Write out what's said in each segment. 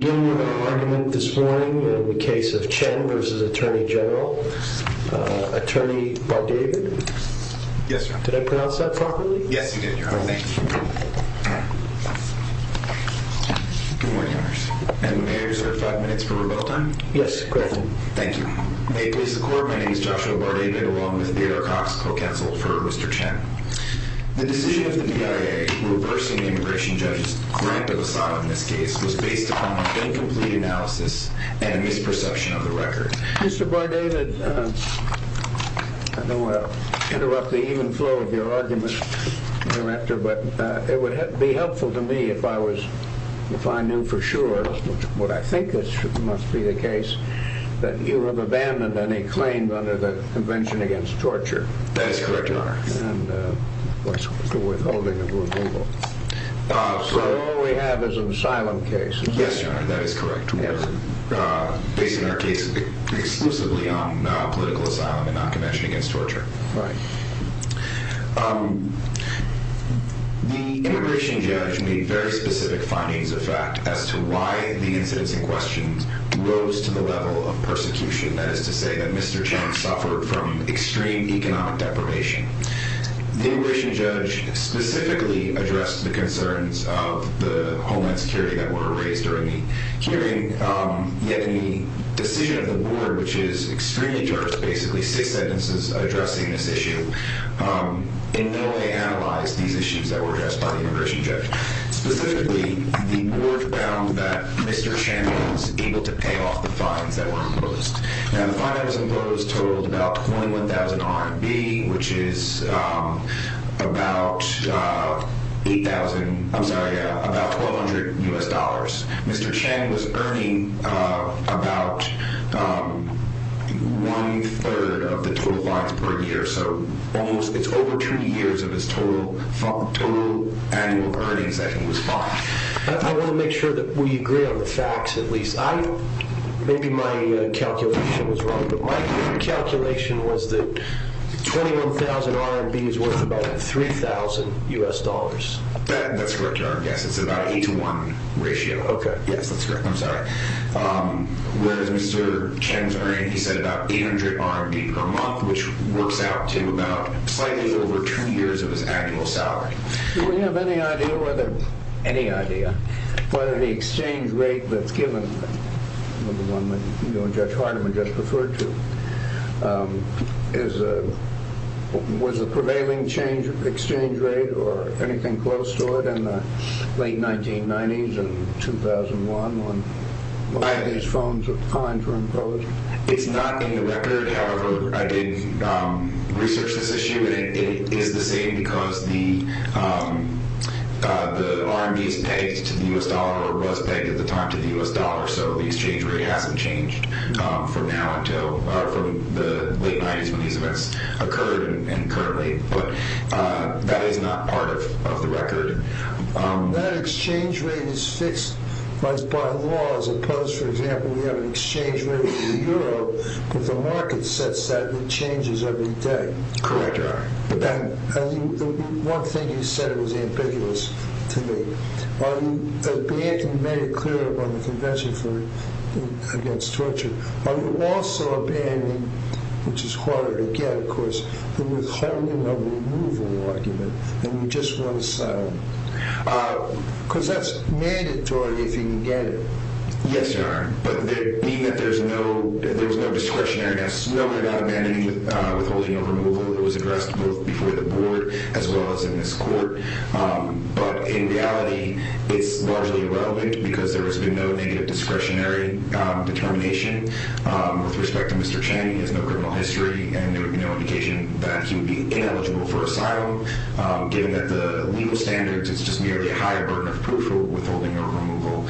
Attorney General, Attorney Bar-David, did I pronounce that properly? Yes, you did, Your Honor. Thank you. Good morning, Your Honor. May I reserve five minutes for rebuttal time? Yes, go ahead. Thank you. May it please the Court, my name is Joshua Bar-David, along with Theodore Cox, co-counsel for Mr. Chen. The decision of the DIA reversing the immigration judge's grant of asylum in this case was based upon incomplete analysis and a misperception of the record. Mr. Bar-David, I don't want to interrupt the even flow of your argument, Director, but it would be helpful to me if I knew for sure, what I think must be the case, that you have abandoned any claim under the Convention Against Torture. So all we have is an asylum case. Yes, Your Honor, that is correct. Based on our case exclusively on political asylum and non-convention against torture. Right. The immigration judge made very specific findings, in fact, as to why the incidents in question rose to the level of persecution, that is to say that Mr. Chen suffered from extreme economic deprivation. The immigration judge specifically addressed the concerns of the Homeland Security that were raised during the hearing, yet the decision of the Board, which is extremely diverse, basically six sentences addressing this issue, in no way analyzed these issues that were addressed by the immigration judge. Specifically, the Board found that Mr. Chen was able to pay off the fines that were imposed. Now the fine that was imposed totaled about 21,000 RMB, which is about 8,000, I'm sorry, about 1,200 U.S. dollars. Mr. Chen was earning about one-third of the total fines per year, so it's over 20 years of his total annual earnings that he was fined. I want to make sure that we agree on the facts at least. Maybe my calculation was wrong, but my calculation was that 21,000 RMB is worth about 3,000 U.S. dollars. That's correct, your Honor. Yes, it's about an 8 to 1 ratio. Okay. Yes, that's correct. I'm sorry. Whereas Mr. Chen's earning, he said, about 800 RMB per month, which works out to about slightly over 20 years of his annual salary. Do we have any idea whether the exchange rate that's given, the one that you and Judge Hardiman just referred to, was the prevailing exchange rate or anything close to it in the late 1990s and 2001 when these fines were imposed? It's not in the record. However, I did research this issue, and it is the same because the RMB is pegged to the U.S. dollar or was pegged at the time to the U.S. dollar, so the exchange rate hasn't changed from now until the late 1990s when these events occurred and currently. But that is not part of the record. That exchange rate is fixed by law as opposed, for example, we have an exchange rate of the euro, but the market sets that and it changes every day. Correct, your Honor. One thing you said was ambiguous to me. Are you abandoning, you made it clear on the convention against torture, are you also abandoning, which is harder to get, of course, the withholding of removal argument than you just once said? Because that's mandatory if you can get it. Yes, your Honor. But meaning that there's no discretionary. I've spoken about abandoning withholding of removal. It was addressed both before the board as well as in this court. But in reality, it's largely irrelevant because there has been no negative discretionary determination with respect to Mr. Chang. He has no criminal history and no indication that he would be ineligible for asylum. Given that the legal standards, it's just merely a higher burden of proof for withholding or removal.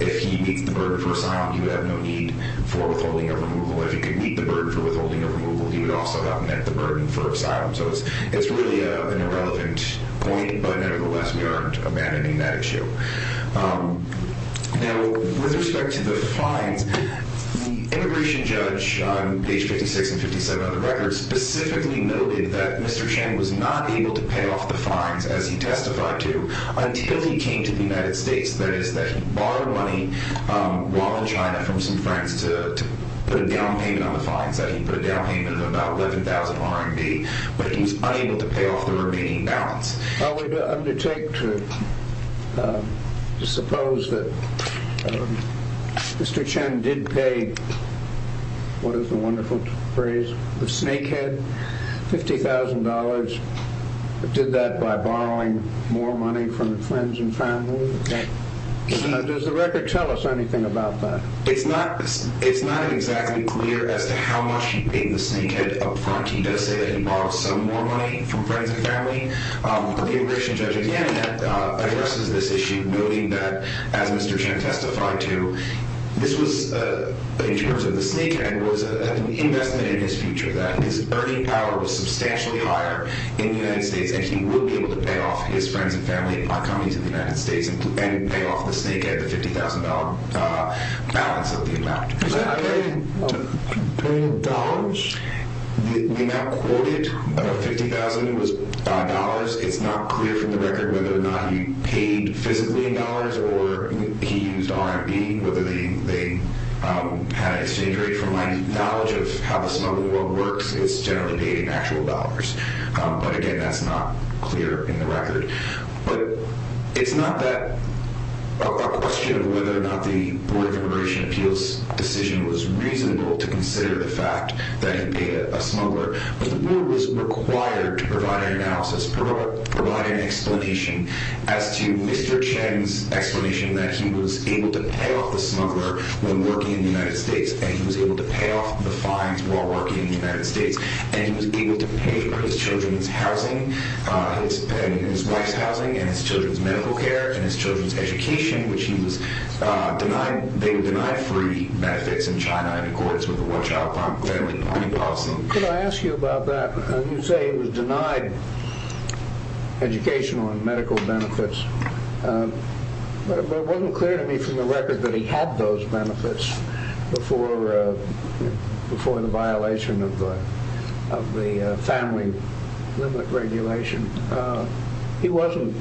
If he meets the burden for asylum, he would have no need for withholding or removal. If he could meet the burden for withholding or removal, he would also have met the burden for asylum. So it's really an irrelevant point. But nevertheless, we aren't abandoning that issue. Now, with respect to the fines, the immigration judge, on page 56 and 57 of the record, specifically noted that Mr. Chang was not able to pay off the fines as he testified to until he came to the United States. That is, that he borrowed money while in China from some friends to put a down payment on the fines, that he put a down payment of about 11,000 RMB, but he was unable to pay off the remaining balance. I would undertake to suppose that Mr. Chang did pay, what is the wonderful phrase, the snakehead, $50,000. Did that by borrowing more money from friends and family? Does the record tell us anything about that? It's not exactly clear as to how much he paid the snakehead upfront. He does say that he borrowed some more money from friends and family. The immigration judge, again, addresses this issue, noting that, as Mr. Chang testified to, this was in terms of the snakehead was an investment in his future, that his earning power was substantially higher in the United States, and he would be able to pay off his friends and family by coming to the United States and pay off the snakehead, the $50,000 balance of the amount. The snakehead paid in dollars? The amount quoted, $50,000, was in dollars. It's not clear from the record whether or not he paid physically in dollars or he used RMB, whether they had an exchange rate. From my knowledge of how the smuggling world works, it's generally paid in actual dollars. But again, that's not clear in the record. But it's not that a question of whether or not the Board of Immigration Appeals decision was reasonable to consider the fact that he paid a smuggler, but the world was required to provide an analysis, provide an explanation as to Mr. Chang's explanation that he was able to pay off the smuggler when working in the United States, and he was able to pay off the fines while working in the United States, and he was able to pay for his children's housing, his wife's housing, and his children's medical care, and his children's education, which he was denied free benefits in China in accordance with the Watch Out Family Funding Policy. Can I ask you about that? You say he was denied educational and medical benefits, but it wasn't clear to me from the record that he had those benefits before the violation of the family limit regulation. He wasn't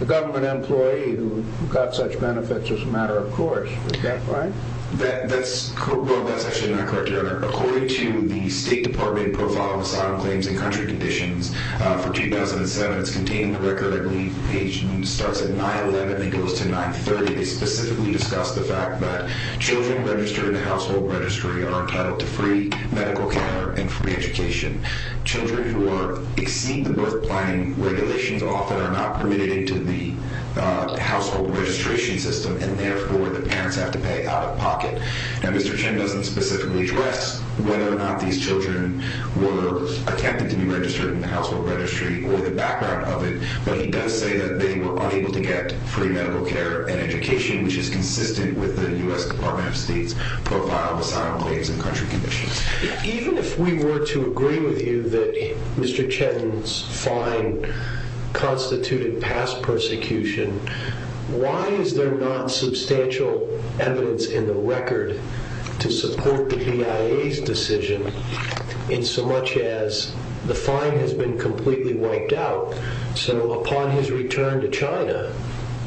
a government employee who got such benefits as a matter of course. Is that right? That's actually not correct, Your Honor. According to the State Department Profile of Asylum Claims and Country Conditions for 2007, and it's contained in the record, I believe, page starts at 911 and goes to 930, they specifically discuss the fact that children registered in the household registry are entitled to free medical care and free education. Children who exceed the birth planning regulations often are not permitted into the household registration system, and therefore the parents have to pay out of pocket. Now, Mr. Chang doesn't specifically address whether or not these children were attempted to be registered in the household registry or the background of it, but he does say that they were unable to get free medical care and education, which is consistent with the U.S. Department of State's Profile of Asylum Claims and Country Conditions. Even if we were to agree with you that Mr. Chetton's fine constituted past persecution, why is there not substantial evidence in the record to support the BIA's decision in so much as the fine has been completely wiped out, so upon his return to China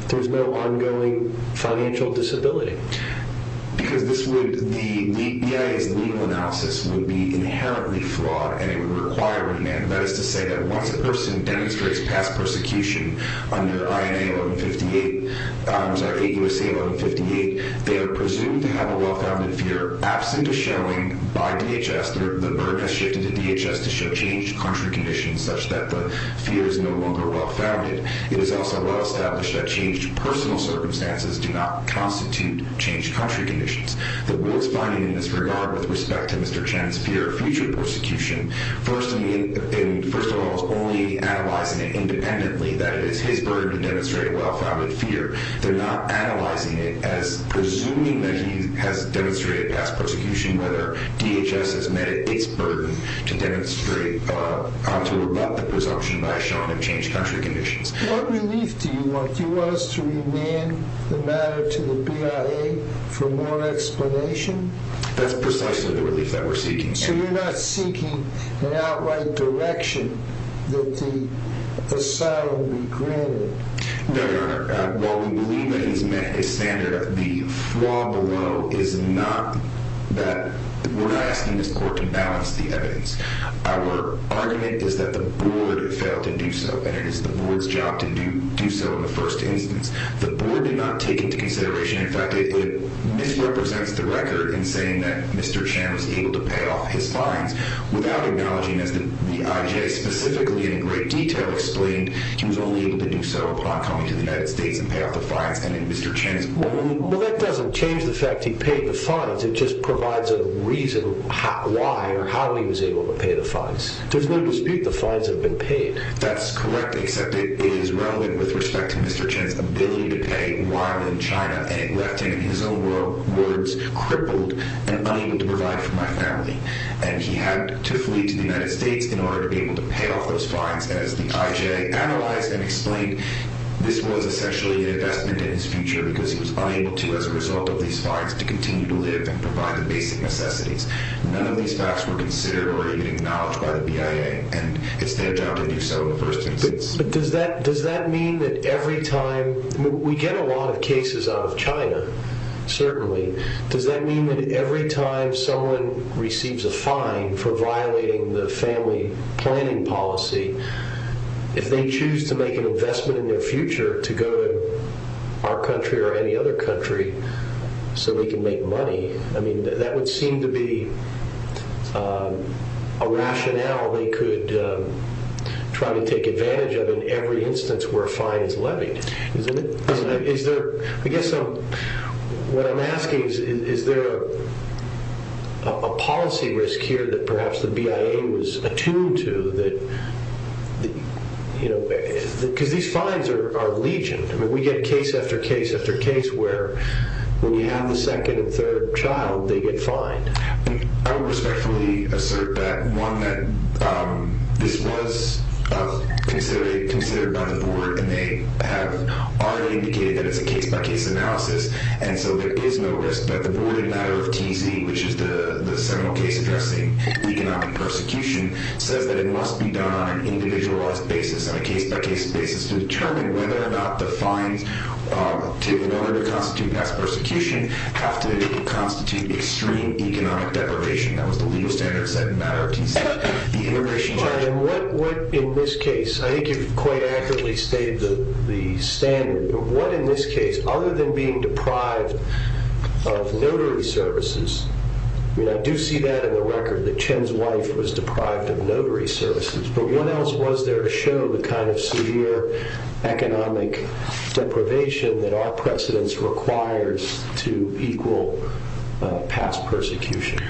there's no ongoing financial disability? Because the BIA's legal analysis would be inherently flawed and it would require remand. That is to say that once a person demonstrates past persecution under INA 1158, I'm sorry, 8 U.S.A. 1158, they are presumed to have a well-founded fear absent a showing by DHS. The burden has shifted to DHS to show changed country conditions such that the fear is no longer well-founded. It is also well established that changed personal circumstances do not constitute changed country conditions. The worst finding in this regard with respect to Mr. Chen's fear of future persecution, first of all is only analyzing it independently that it is his burden to demonstrate a well-founded fear. They're not analyzing it as presuming that he has demonstrated past persecution, whether DHS has met its burden to rebut the presumption by Sean of changed country conditions. What relief do you want? Do you want us to remand the matter to the BIA for more explanation? So you're not seeking an outright direction that the asylum be granted? No, Your Honor. While we believe that it has met its standard, the flaw below is not that we're not asking this court to balance the evidence. Our argument is that the board failed to do so and it is the board's job to do so in the first instance. The board did not take into consideration, in fact, it misrepresents the record in saying that Mr. Chen was able to pay off his fines without acknowledging as the IJ specifically in great detail explained, he was only able to do so upon coming to the United States and pay off the fines and Mr. Chen's burden. Well, that doesn't change the fact he paid the fines. It just provides a reason why or how he was able to pay the fines. There's no dispute the fines have been paid. That's correct except it is relevant with respect to Mr. Chen's ability to pay while in China and it left him in his own words crippled and unable to provide for my family. And he had to flee to the United States in order to be able to pay off those fines as the IJ analyzed and explained this was essentially an investment in his future because he was unable to as a result of these fines to continue to live and provide the basic necessities. None of these facts were considered or even acknowledged by the BIA and it's their job to do so in the first instance. But does that mean that every time, we get a lot of cases out of China certainly, does that mean that every time someone receives a fine for violating the family planning policy, if they choose to make an investment in their future to go to our country or any other country so they can make money, that would seem to be a rationale they could try to take advantage of in every instance where a fine is levied. I guess what I'm asking is, is there a policy risk here that perhaps the BIA was attuned to? Because these fines are legion. I mean, we get case after case after case where when you have the second and third child, they get fined. I would respectfully assert that one that this was considered by the board and they have already indicated that it's a case-by-case analysis. And so there is no risk that the board in matter of TZ, which is the seminal case addressing economic persecution, says that it must be done on an individualized basis, on a case-by-case basis to determine whether or not the fines to constitute mass persecution have to constitute extreme economic deprivation. That was the legal standard set in matter of TZ. In this case, I think you've quite accurately stated the standard. What in this case, other than being deprived of notary services, I mean, I do see that in the record that Chen's wife was deprived of notary services, but what else was there to show the kind of severe economic deprivation that our precedence requires to equal past persecution?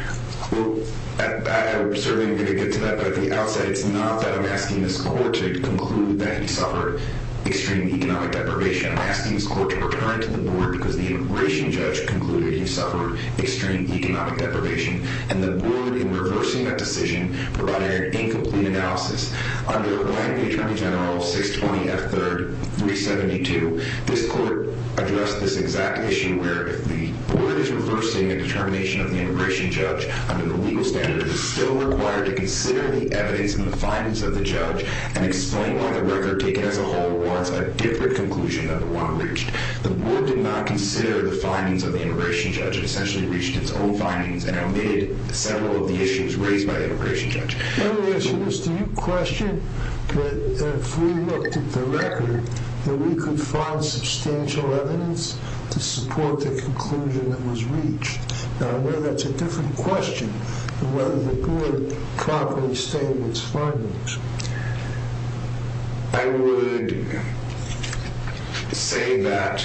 Well, I'm certainly going to get to that. But at the outset, it's not that I'm asking this court to conclude that he suffered extreme economic deprivation. I'm asking this court to return to the board because the immigration judge concluded he suffered extreme economic deprivation. And the board, in reversing that decision, provided an incomplete analysis. Under Miami Attorney General 620 F. 3rd 372, this court addressed this exact issue where if the board is reversing a determination of the immigration judge under the legal standard, it's still required to consider the evidence and the findings of the judge and explain why the record taken as a whole warrants a different conclusion than the one reached. The board did not consider the findings of the immigration judge. The immigration judge essentially reached its own findings and omitted several of the issues raised by the immigration judge. My only question is, do you question that if we looked at the record, that we could find substantial evidence to support the conclusion that was reached? Now, I know that's a different question than whether the board properly stated its findings. I would say that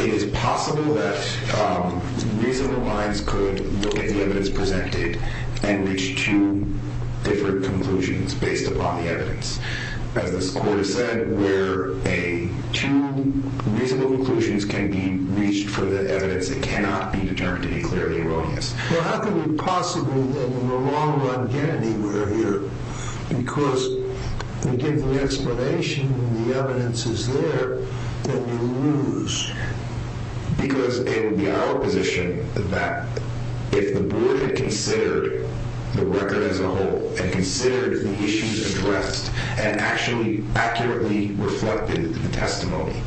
it is possible that reasonable minds could look at the evidence presented and reach two different conclusions based upon the evidence. As this court has said, where two reasonable conclusions can be reached for the evidence that cannot be determined to be clearly erroneous. Well, how can we possibly then in the long run get anywhere here? Because we gave the explanation and the evidence is there, then we lose. Because it would be our position that if the board had considered the record as a whole and considered the issues addressed and actually accurately reflected the testimony,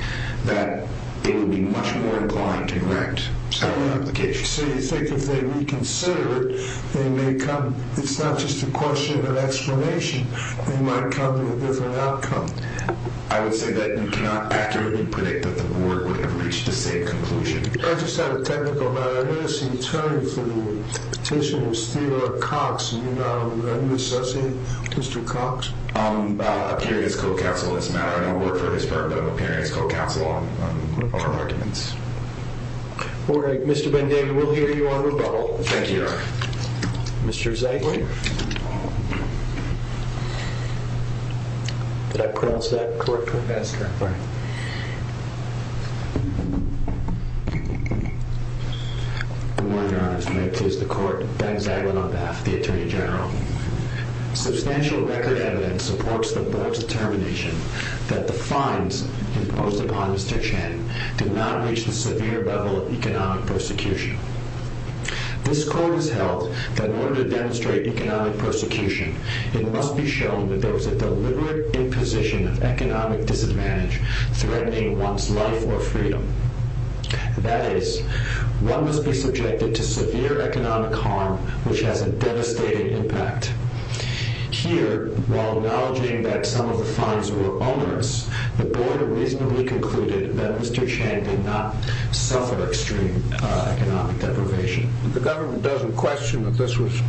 that it would be much more inclined to correct our application. So you think if they reconsider it, they may come. It's not just a question of explanation. They might come to a different outcome. I would say that you cannot accurately predict that the board would have reached the same conclusion. I just have a technical matter. I noticed the attorney for the petition was Theodore Cox. Are you an associate, Mr. Cox? I'm a periodist co-counsel in this matter. I don't work for this firm, but I'm a periodist co-counsel on our arguments. All right. Mr. Ben David, we'll hear you on rebuttal. Thank you, Your Honor. Mr. Zaglin. Did I pronounce that correctly? That's correct. All right. Good morning, Your Honor. May it please the Court. Ben Zaglin on behalf of the Attorney General. Substantial record evidence supports the board's determination that the fines imposed upon Mr. Chen did not reach the severe level of economic persecution. This Court has held that in order to demonstrate economic persecution, it must be shown that there was a deliberate imposition of economic disadvantage threatening one's life or freedom. That is, one must be subjected to severe economic harm which has a devastating impact. Here, while acknowledging that some of the fines were onerous, the board reasonably concluded that Mr. Chen did not suffer extreme economic deprivation. The government doesn't question that this was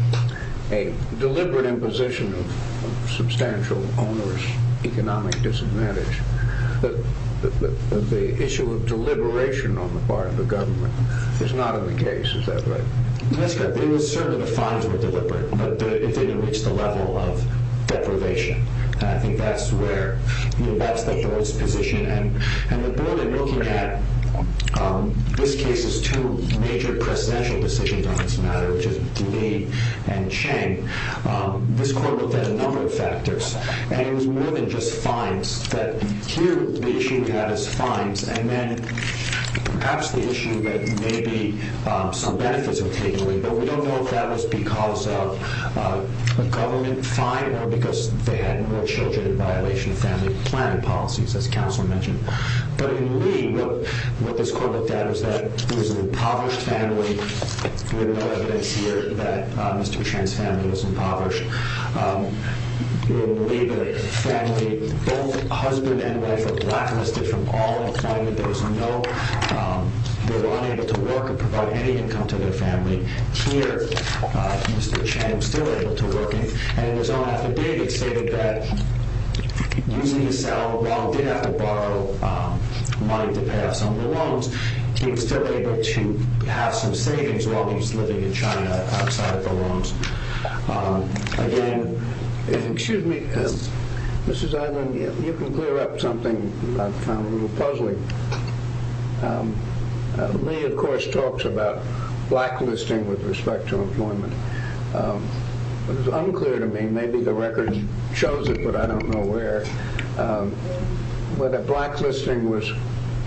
a deliberate imposition of substantial onerous economic disadvantage. The issue of deliberation on the part of the government is not in the case. Is that right? That's correct. The fines were deliberate, but it didn't reach the level of deprivation. And I think that's the board's position. And the board, in looking at this case's two major presidential decisions on this matter, which is Dilee and Chen, this Court looked at a number of factors. And it was more than just fines. Here, the issue we had is fines. And then perhaps the issue that maybe some benefits were taken away. But we don't know if that was because of a government fine or because they had more children in violation of family planning policies, as Counselor mentioned. But in Lee, what this Court looked at was that there was an impoverished family. We have no evidence here that Mr. Chen's family was impoverished. In Lee, the family, both husband and wife, were blacklisted from all employment. They were unable to work or provide any income to their family. Here, Mr. Chen is still able to work. And his own affidavit stated that using his salary while he did have to borrow money to pay off some of the loans, he was still able to have some savings while he was living in China outside of the loans. Again, excuse me, Mrs. Eiland, you can clear up something I found a little puzzling. Lee, of course, talks about blacklisting with respect to employment. It was unclear to me, maybe the record shows it, but I don't know where, whether blacklisting was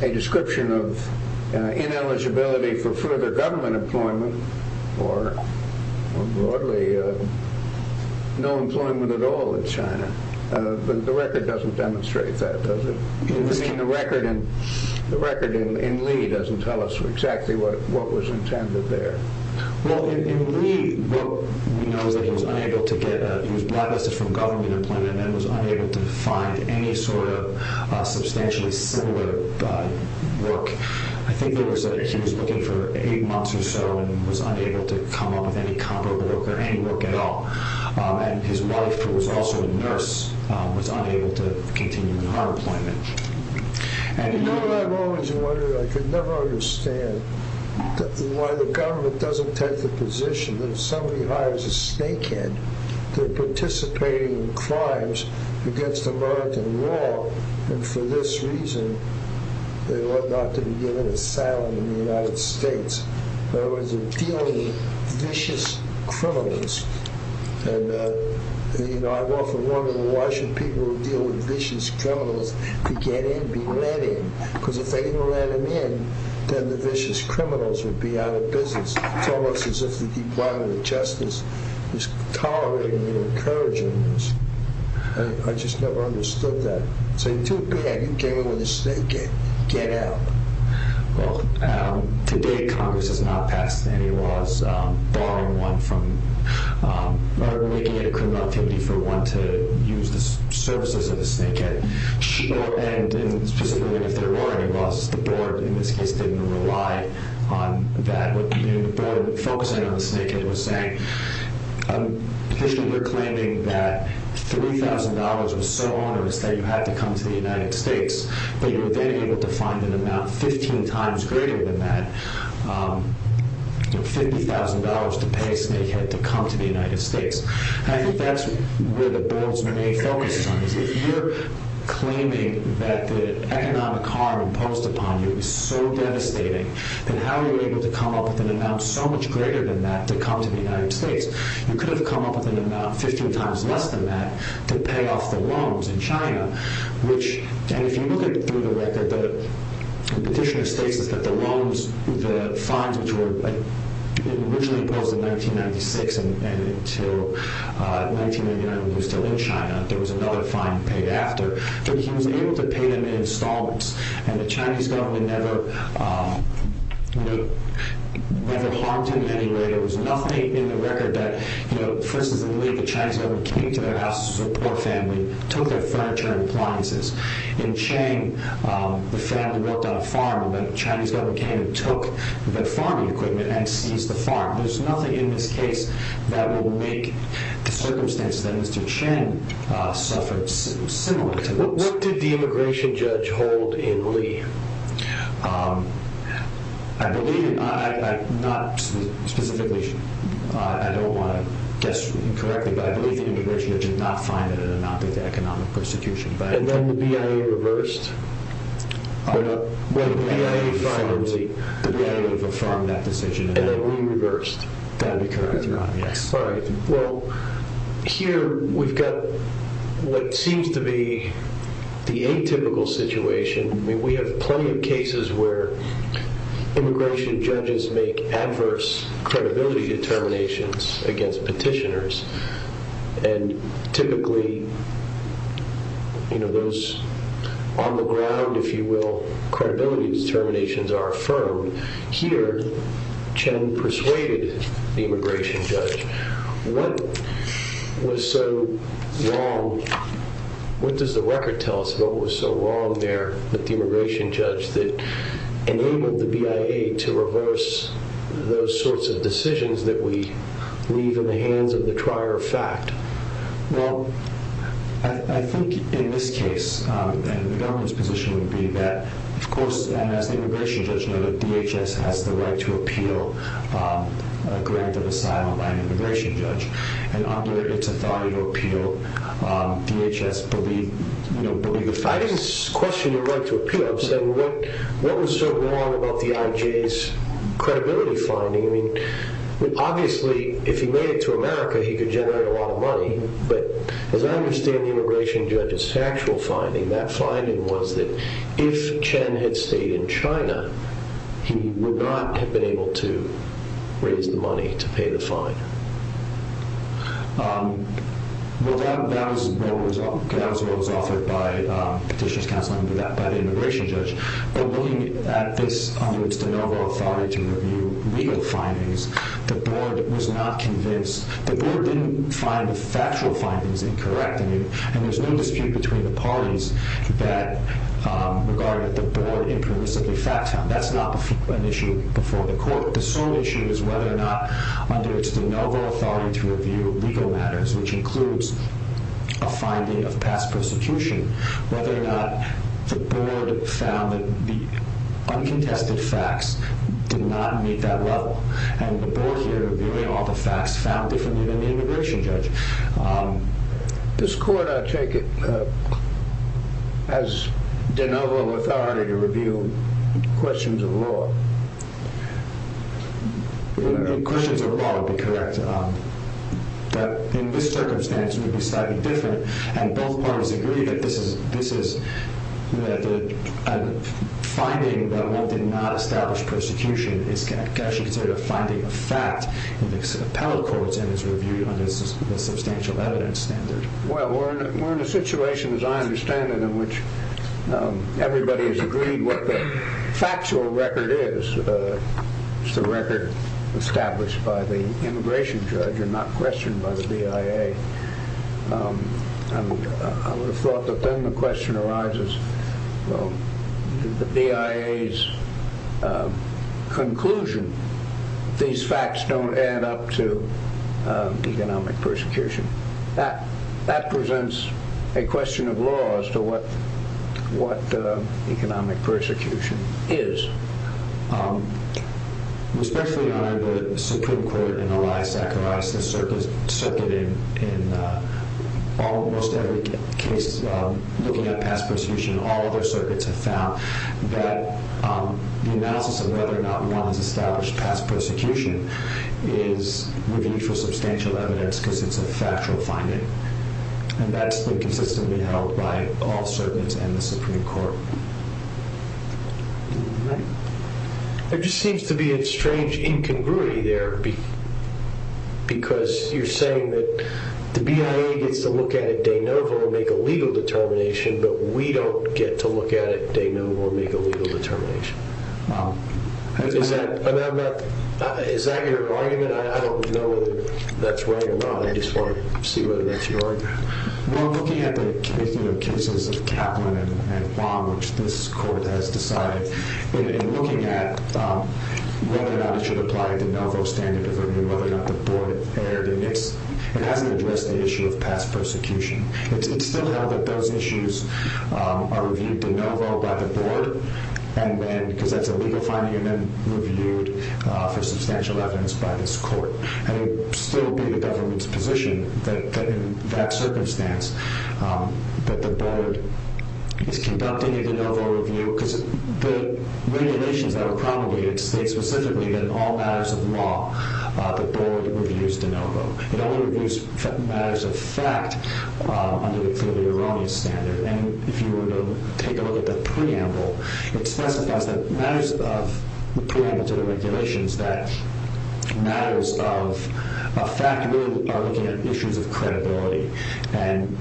a description of ineligibility for further government employment or broadly no employment at all in China. But the record doesn't demonstrate that, does it? I mean, the record in Lee doesn't tell us exactly what was intended there. Well, in Lee, what we know is that he was blacklisted from government employment and was unable to find any sort of substantially similar work. I think he was looking for eight months or so and was unable to come up with any comparable work or any work at all. And his wife, who was also a nurse, was unable to continue in her employment. You know what I've always wondered? I could never understand why the government doesn't take the position that if somebody hires a snakehead, they're participating in crimes against American law, and for this reason, they ought not to be given asylum in the United States. In other words, they're dealing with vicious criminals. And, you know, I've often wondered, why should people who deal with vicious criminals be let in? Because if they didn't let them in, then the vicious criminals would be out of business. It's almost as if the Department of Justice is tolerating and encouraging this. I just never understood that. It's too bad you're dealing with a snakehead. Get out. Well, today Congress has not passed any laws barring one from making it a criminal activity for one to use the services of a snakehead. And specifically, if there were any laws, the board, in this case, didn't rely on that. The board focusing on the snakehead was saying. You're claiming that $3,000 was so onerous that you had to come to the United States, but you were then able to find an amount 15 times greater than that, $50,000 to pay a snakehead to come to the United States. I think that's where the board's main focus is. If you're claiming that the economic harm imposed upon you is so devastating, then how are you able to come up with an amount so much greater than that to come to the United States? You could have come up with an amount 15 times less than that to pay off the loans in China. And if you look at it through the record, the petitioner states that the loans, the fines which were originally imposed in 1996 and until 1999 when he was still in China, there was another fine paid after. But he was able to pay them in installments. And the Chinese government never harmed him in any way. There was nothing in the record that, for instance, I believe the Chinese government came to their house as a support family, took their furniture and appliances. In Chiang, the family worked on a farm, and the Chinese government came and took the farming equipment and seized the farm. There's nothing in this case that will make the circumstances that Mr. Chiang suffered similar to those. What did the immigration judge hold in Lee? I believe, not specifically, I don't want to guess incorrectly, but I believe the immigration judge did not find it an amount of economic persecution. And then the BIA reversed? The BIA would have affirmed that decision. And then Lee reversed? That would be correct, yes. Well, here we've got what seems to be the atypical situation. We have plenty of cases where immigration judges make adverse credibility determinations against petitioners. And typically, those on the ground, if you will, credibility determinations are affirmed. Here, Chiang persuaded the immigration judge. What was so wrong? What does the record tell us about what was so wrong there with the immigration judge that enabled the BIA to reverse those sorts of decisions that we leave in the hands of the trier of fact? Well, I think in this case, and the government's position would be that, of course, and as the immigration judge noted, DHS has the right to appeal a grant of asylum by an immigration judge. And under its authority to appeal, DHS believed, you know, believed the facts. I didn't question your right to appeal. I'm saying what was so wrong about the IJ's credibility finding? I mean, obviously, if he made it to America, he could generate a lot of money. But as I understand the immigration judge's actual finding, that finding was that if Chiang had stayed in China, he would not have been able to raise the money to pay the fine. Well, that was what was offered by petitioner's counsel under that immigration judge. But looking at this under its de novo authority to review legal findings, the board was not convinced. The board didn't find the factual findings incorrect. And there's no dispute between the parties that regarded the board impermissibly fact found. That's not an issue before the court. The sole issue is whether or not under its de novo authority to review legal matters, which includes a finding of past persecution, whether or not the board found that the uncontested facts did not meet that level. And the board here revealed all the facts found differently than the immigration judge. This court, I take it, has de novo authority to review questions of law. Questions of law would be correct. But in this circumstance, it would be slightly different. And both parties agree that this is a finding that one did not establish persecution. It's actually considered a finding of fact in the appellate courts and is reviewed under the substantial evidence standard. Well, we're in a situation, as I understand it, in which everybody has agreed what the factual record is. It's the record established by the immigration judge and not questioned by the BIA. I would have thought that then the question arises, well, the BIA's conclusion, these facts don't add up to economic persecution. That presents a question of law as to what economic persecution is. Respectfully, Your Honor, the Supreme Court and Eli Zacharias have circuited in almost every case looking at past persecution. All other circuits have found that the analysis of whether or not one has established past persecution is reviewed for substantial evidence because it's a factual finding. And that's been consistently held by all circuits and the Supreme Court. There just seems to be a strange incongruity there because you're saying that the BIA gets to look at it de novo and make a legal determination, but we don't get to look at it de novo and make a legal determination. Is that your argument? I don't know whether that's right or not. I just want to see whether that's your argument. Well, looking at the cases of Kaplan and Wong, which this court has decided, and looking at whether or not it should apply a de novo standard of review, whether or not the board erred, it hasn't addressed the issue of past persecution. It's still held that those issues are reviewed de novo by the board because that's a legal finding and then reviewed for substantial evidence by this court. And it would still be the government's position that in that circumstance that the board is conducting a de novo review because the regulations that were promulgated state specifically that in all matters of law, the board reviews de novo. It only reviews matters of fact under the clearly erroneous standard. And if you were to take a look at the preamble, it specifies that matters of the preamble to the regulations that matters of fact really are looking at issues of credibility. And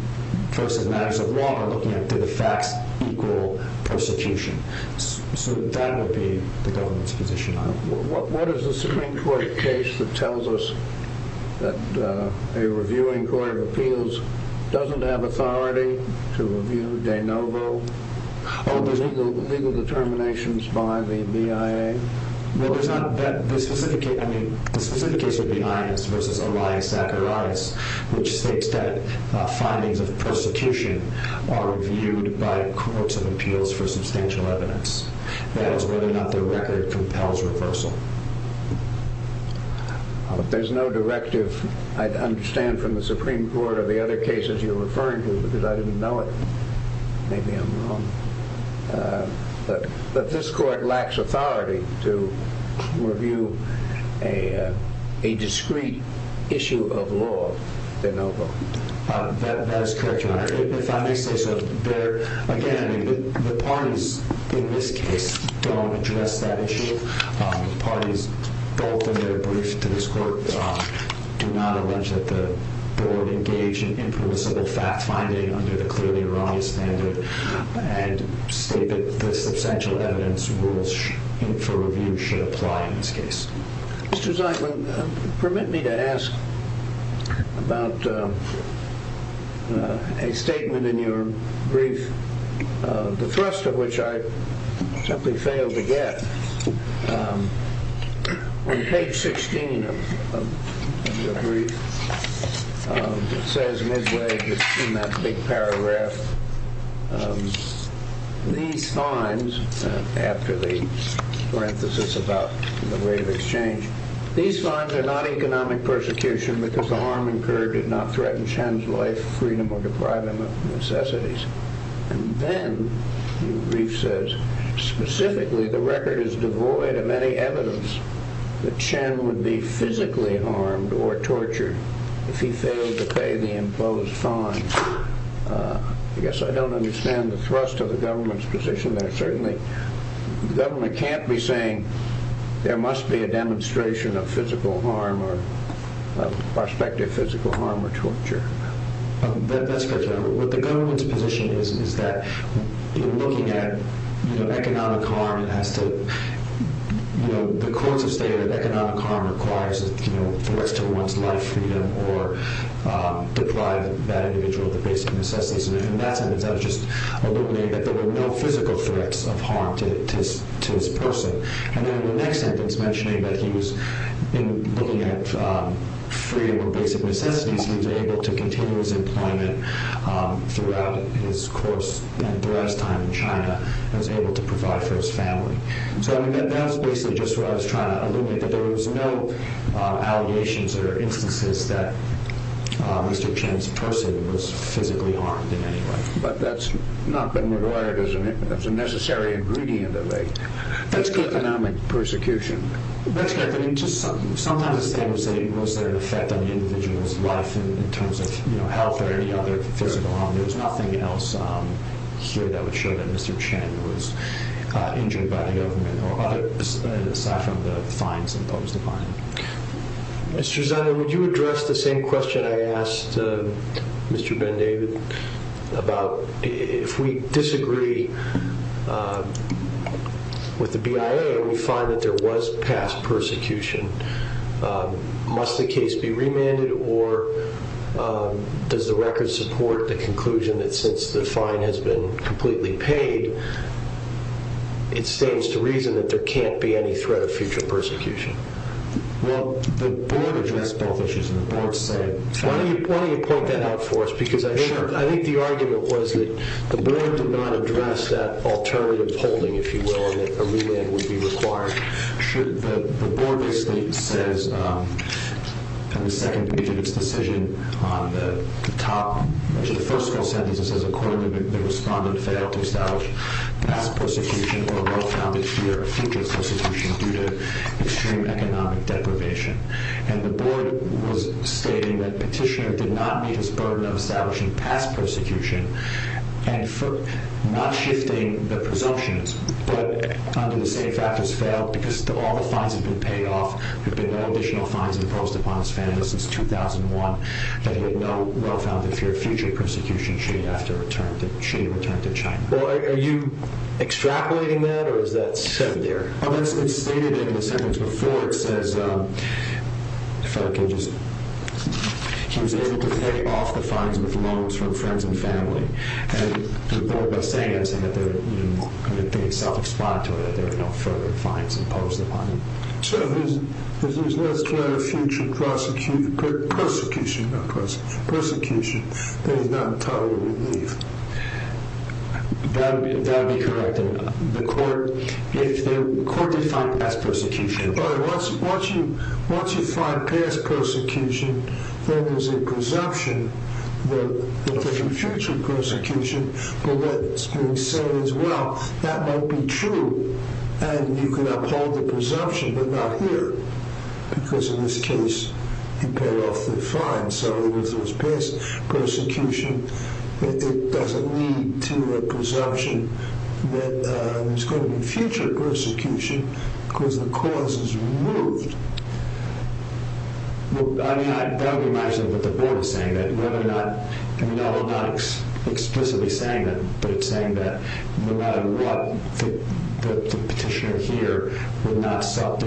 folks in matters of law are looking at did the facts equal persecution. So that would be the government's position on it. So what is the Supreme Court case that tells us that a reviewing court of appeals doesn't have authority to review de novo legal determinations by the BIA? Well, there's not that specific case. I mean, the specific case would be INS versus Elias Zacharias, which states that findings of persecution are reviewed by courts of appeals for substantial evidence. That is whether or not the record compels reversal. If there's no directive, I'd understand from the Supreme Court of the other cases you're referring to because I didn't know it. Maybe I'm wrong. But this court lacks authority to review a discreet issue of law de novo. That is correct, Your Honor. If I may say so. Again, the parties in this case don't address that issue. The parties both in their brief to this court do not allege that the board engaged in impermissible fact-finding under the clearly erroneous standard and state that the substantial evidence rules for review should apply in this case. Mr. Zeitman, permit me to ask about a statement in your brief, the thrust of which I simply failed to get. On page 16 of your brief, it says midway in that big paragraph, these fines, after the parenthesis about the rate of exchange, these fines are not economic persecution because the harm incurred did not threaten Shen's life, freedom, or deprive him of necessities. And then, your brief says, specifically, the record is devoid of any evidence that Shen would be physically harmed or tortured if he failed to pay the imposed fines. I guess I don't understand the thrust of the government's position there. Certainly, the government can't be saying there must be a demonstration of physical harm or torture. That's correct, Your Honor. What the government's position is, is that in looking at economic harm, it has to, you know, the courts have stated that economic harm requires threats to one's life, freedom, or deprive that individual of the basic necessities. And in that sentence, I was just alluding that there were no physical threats of harm to this person. And then, in the next sentence, mentioning that he was, in looking at freedom or basic necessities, he was able to continue his employment throughout his course and throughout his time in China, and was able to provide for his family. So, I mean, that's basically just what I was trying to allude to, that there was no allegations or instances that Mr. Shen's person was physically harmed in any way. But that's not been regarded as a necessary ingredient of economic persecution. That's correct. I mean, sometimes it's stated, was there an effect on the individual's life in terms of, you know, health or any other physical harm. There's nothing else here that would show that Mr. Shen was injured by the government, aside from the fines imposed upon him. Mr. Zander, would you address the same question I asked Mr. Ben-David about if we disagree with the BIA and we find that there was past persecution, must the case be remanded or does the record support the conclusion that since the fine has been completely paid, it stands to reason that there can't be any threat of future persecution? Well, the board addressed both issues and the board said… Why don't you point that out for us, because I think the argument was that the board did not address that alternative holding, if you will, and that a remand would be required. The board basically says, in the second page of its decision, on the top, the first full sentence, it says, according to the respondent, failed to establish past persecution or a well-founded fear of future persecution due to extreme economic deprivation. And the board was stating that petitioner did not meet his burden of establishing past persecution and for not shifting the presumptions, but under the same factors, failed because all the fines have been paid off, there have been no additional fines imposed upon his family since 2001, that he had no well-founded fear of future persecution should he return to China. Well, are you extrapolating that or is that said there? Well, that's been stated in the sentence before, it says, he was able to pay off the fines with loans from friends and family. And the board, by saying that, said that they're self-explanatory, that there are no further fines imposed upon him. So, there's less threat of future persecution than he's not entirely relieved. That would be correct. The court did find past persecution. Once you find past persecution, then there's a presumption that there's a future persecution, but that's being said as well. That might be true, and you can uphold the presumption, but not here, because in this case, he paid off the fines. So, if there was past persecution, it doesn't lead to a presumption that there's going to be future persecution because the cause is removed. Well, I don't imagine what the board is saying. No, I'm not explicitly saying that, but it's saying that no matter what, the petitioner here would not have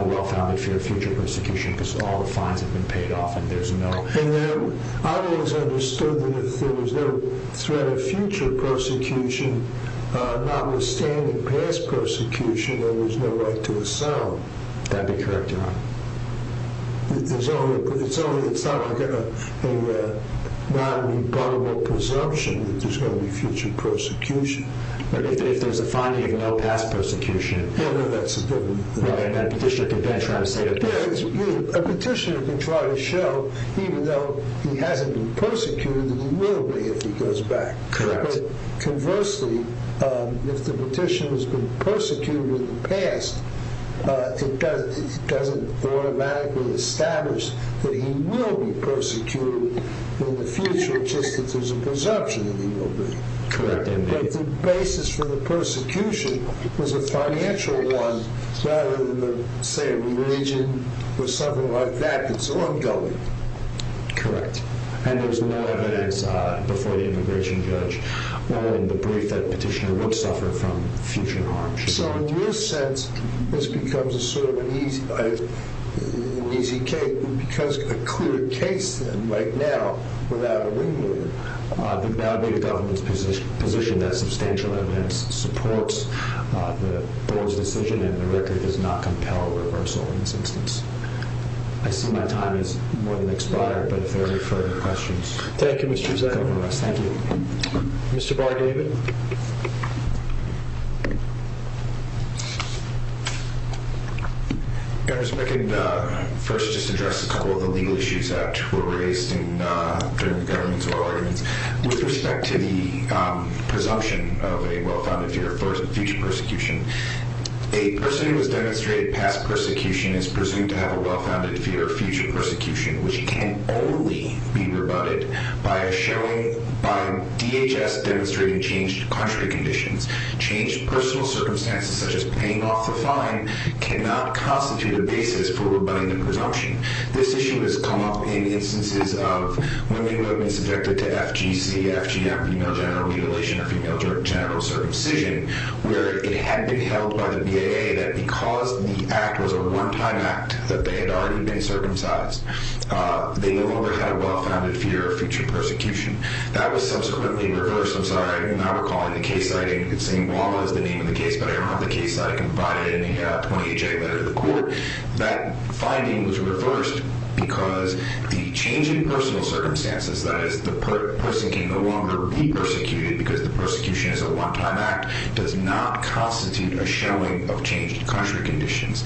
a well-founded fear of future persecution because all the fines have been paid off and there's no... I always understood that if there was no threat of future persecution, notwithstanding past persecution, then there's no right to assault. That would be correct, Your Honor. It's not like a non-rebuttable presumption that there's going to be future persecution. If there's a finding of no past persecution... No, no, that's a different... A petitioner can try to show, even though he hasn't been persecuted, that he will be if he goes back. But conversely, if the petitioner has been persecuted in the past, it doesn't automatically establish that he will be persecuted in the future, just that there's a presumption that he will be. But the basis for the persecution is a financial one, rather than, say, a religion or something like that that's ongoing. Correct. And there's no evidence before the immigration judge or in the brief that a petitioner would suffer from future harm. So in your sense, this becomes a sort of an easy case because a clear case right now without a ringleader... I would validate the government's position that substantial evidence supports the Board's decision and the record does not compel reversal in this instance. I see my time has more than expired, but if there are any further questions... Thank you, Mr. Zuckerman. Thank you. Mr. Barr, David? First, just to address a couple of the legal issues that were raised during the government's oral arguments with respect to the presumption of a well-founded fear of future persecution. A person who has demonstrated past persecution is presumed to have a well-founded fear of future persecution, which can only be rebutted by DHS demonstrating changed country conditions. Changed personal circumstances, such as paying off the fine, cannot constitute a basis for rebutting the presumption. This issue has come up in instances of women who have been subjected to FGC, FGM, female genital mutilation, or female genital circumcision, where it had been held by the BAA that because the act was a wartime act, that they had already been circumcised, they no longer had a well-founded fear of future persecution. That was subsequently reversed. I'm sorry, I'm not recalling the case siting. St. Walla is the name of the case, but I don't have the case site. I can provide it in a 28-J letter to the court. That finding was reversed because the change in personal circumstances, that is, the person can no longer be persecuted because the persecution is a wartime act, does not constitute a showing of changed country conditions.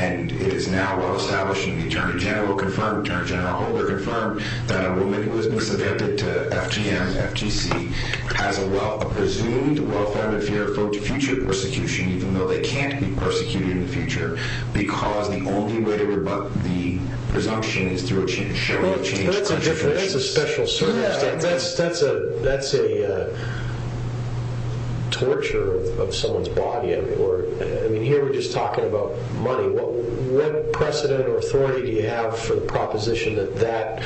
It is now well established, and the Attorney General confirmed, the Attorney General Holder confirmed, that a woman who has been subjected to FGM, FGC, has a presumed well-founded fear of future persecution, even though they can't be persecuted in the future, because the only way to rebut the presumption is through a showing of changed country conditions. That's a special circumstance. That's a torture of someone's body. Here we're just talking about money. What precedent or authority do you have for the proposition that that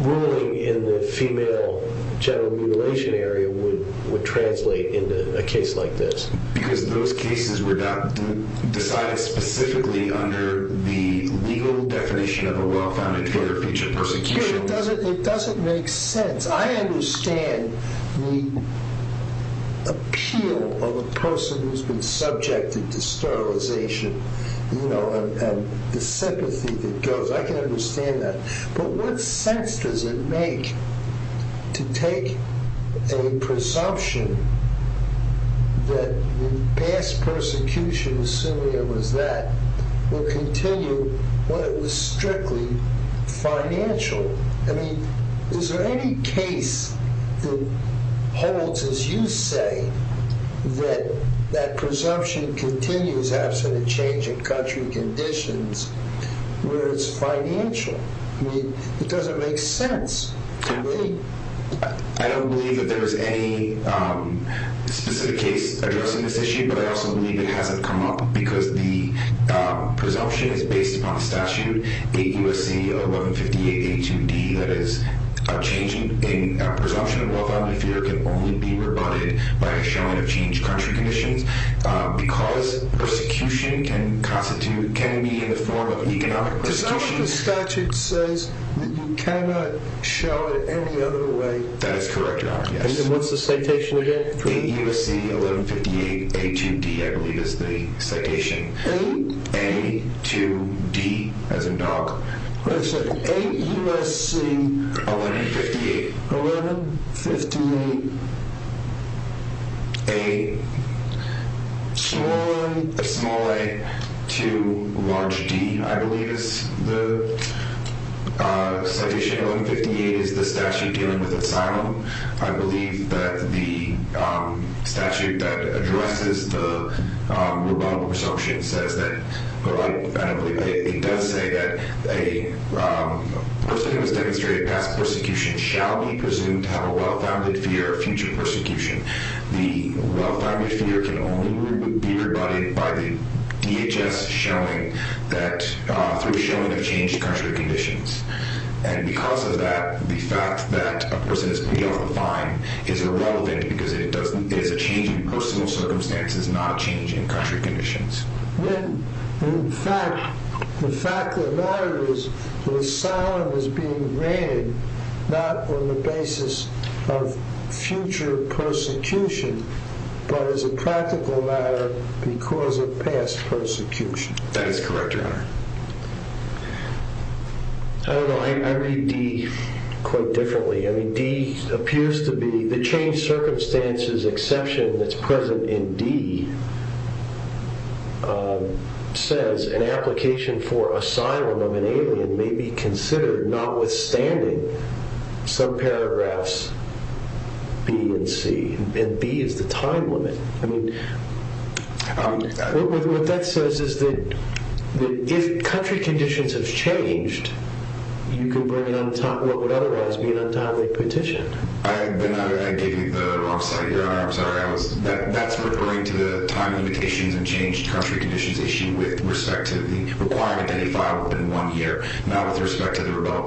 ruling in the female general mutilation area would translate into a case like this? Because those cases were decided specifically under the legal definition of a well-founded fear of future persecution. It doesn't make sense. I understand the appeal of a person who's been subjected to sterilization and the sympathy that goes. I can understand that. But what sense does it make to take a presumption that the past persecution, assuming it was that, will continue when it was strictly financial? I mean, is there any case that holds, as you say, that that presumption continues after the change of country conditions where it's financial? I mean, it doesn't make sense to me. I don't believe that there is any specific case addressing this issue, but I also believe it hasn't come up because the presumption is based upon the statute, 8 U.S.C. 1158-82D, that is, a presumption of well-founded fear can only be rebutted by a showing of changed country conditions because persecution can be in the form of economic persecution. But some of the statute says that you cannot show it any other way. That is correct, Your Honor, yes. And what's the citation again? 8 U.S.C. 1158-82D, I believe is the citation. A? A-2-D, as in dog. Wait a second. 8 U.S.C. 1158-82D. The citation, 1158, is the statute dealing with asylum. I believe that the statute that addresses the rebuttal presumption says that, I don't believe, it does say that a person who has demonstrated past persecution shall be presumed to have a well-founded fear of future persecution. The well-founded fear can only be rebutted by the DHS showing that, through showing of changed country conditions. And because of that, the fact that a person is being held on a fine is irrelevant because it is a change in personal circumstances, not a change in country conditions. In fact, the fact of the matter is that asylum is being granted not on the basis of future persecution, but as a practical matter, because of past persecution. That is correct, Your Honor. I don't know, I read D quite differently. I mean, D appears to be the changed circumstances exception that's present in D says an application for asylum of an alien may be considered notwithstanding some paragraphs B and C. And B is the time limit. I mean, what that says is that if country conditions have changed, you can bring in what would otherwise be an untimely petition. I gave you the wrong slide, Your Honor, I'm sorry. That's referring to the time limitations and changed country conditions issue with respect to the requirement that he file within one year, not with respect to the rebuttal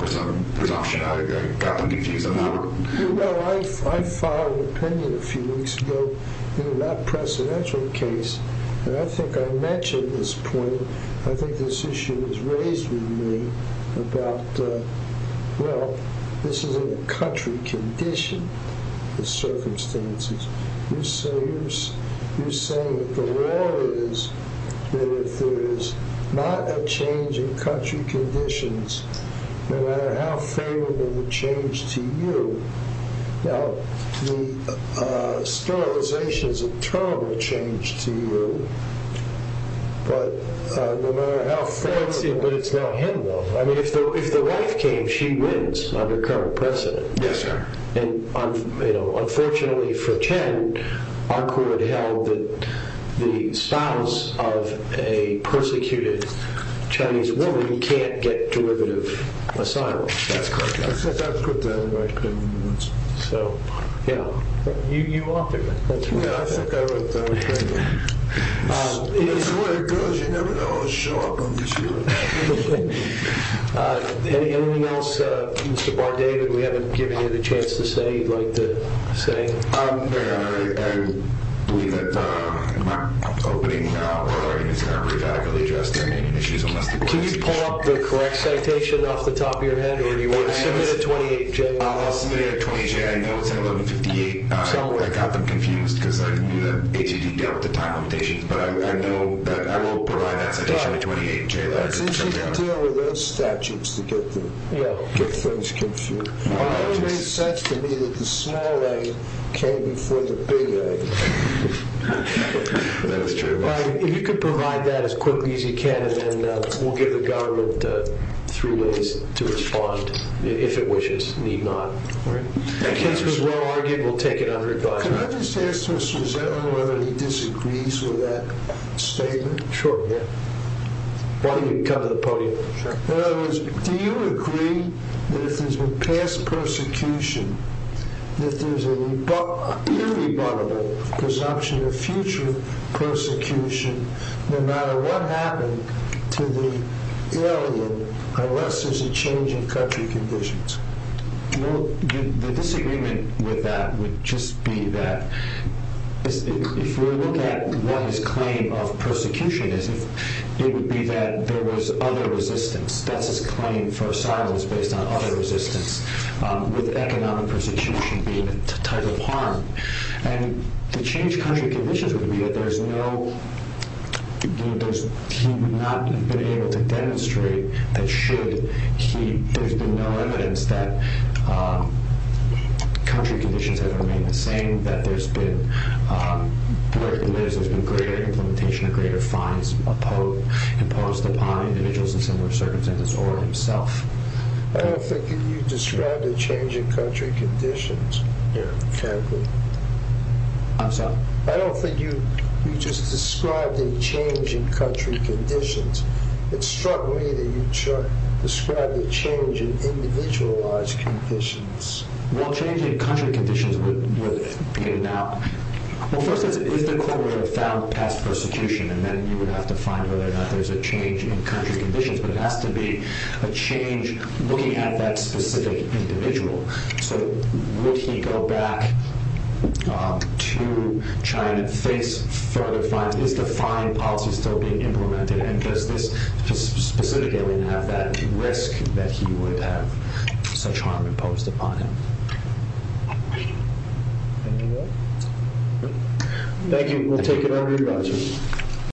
presumption. I got them confused on that one. Well, I filed an opinion a few weeks ago in that presidential case, and I think I mentioned this point. I think this issue is raised with me about, well, this isn't a country condition, the circumstances. You're saying that the law is that if there is not a change in country conditions, no matter how favorable the change to you. Now, sterilization is a terrible change to you, but no matter how favorable. But it's not him, though. I mean, if the wife came, she wins under current precedent. Yes, sir. And, you know, unfortunately for Chen, our court held that the spouse of a persecuted Chinese woman can't get derivative asylum. That's correct. So, yeah. You authored it. Yeah, I think I wrote that. It's the way it goes. You never know. Anything else, Mr. Bardavid? We haven't given you the chance to say you'd like to say. I believe that in my opening hour, it's not very adequately addressed to any issues. Can you pull up the correct citation off the top of your head? Submit a 28-J. I'll submit a 28-J. I know it's an 1158. I got them confused because I knew that AT&T dealt with the time limitations. But I know that I will provide that citation, a 28-J. It's easy to deal with those statutes to get things confused. It makes sense to me that the small A came before the big A. That is true. If you could provide that as quickly as you can, and then we'll give the government three ways to respond. If it wishes, need not. The case was well-argued. We'll take it under advisement. Can I just ask Mr. Zedlin whether he disagrees with that statement? Sure, yeah. Why don't you come to the podium? In other words, do you agree that if there's been past persecution, that there's an irrebuttable presumption of future persecution, no matter what happened to the alien, unless there's a change in country conditions? Well, the disagreement with that would just be that if we look at what his claim of persecution is, it would be that there was other resistance. That's his claim for asylum is based on other resistance, with economic persecution being a type of harm. And the change in country conditions would be that he would not have been able to demonstrate that should he, there's been no evidence that country conditions have remained the same, that there's been, where he lives, there's been greater implementation, greater fines imposed upon individuals in similar circumstances or himself. I don't think you described a change in country conditions. Yeah. I'm sorry? I don't think you just described a change in country conditions. It struck me that you described a change in individualized conditions. Well, change in country conditions would be now, well, first is the claimant found past persecution? And then you would have to find whether or not there's a change in country conditions. But it has to be a change looking at that specific individual. So would he go back to China and face further fines? Is the fine policy still being implemented? Or would this specific alien have that risk that he would have such harm imposed upon him? Any more? Thank you. We'll take it over.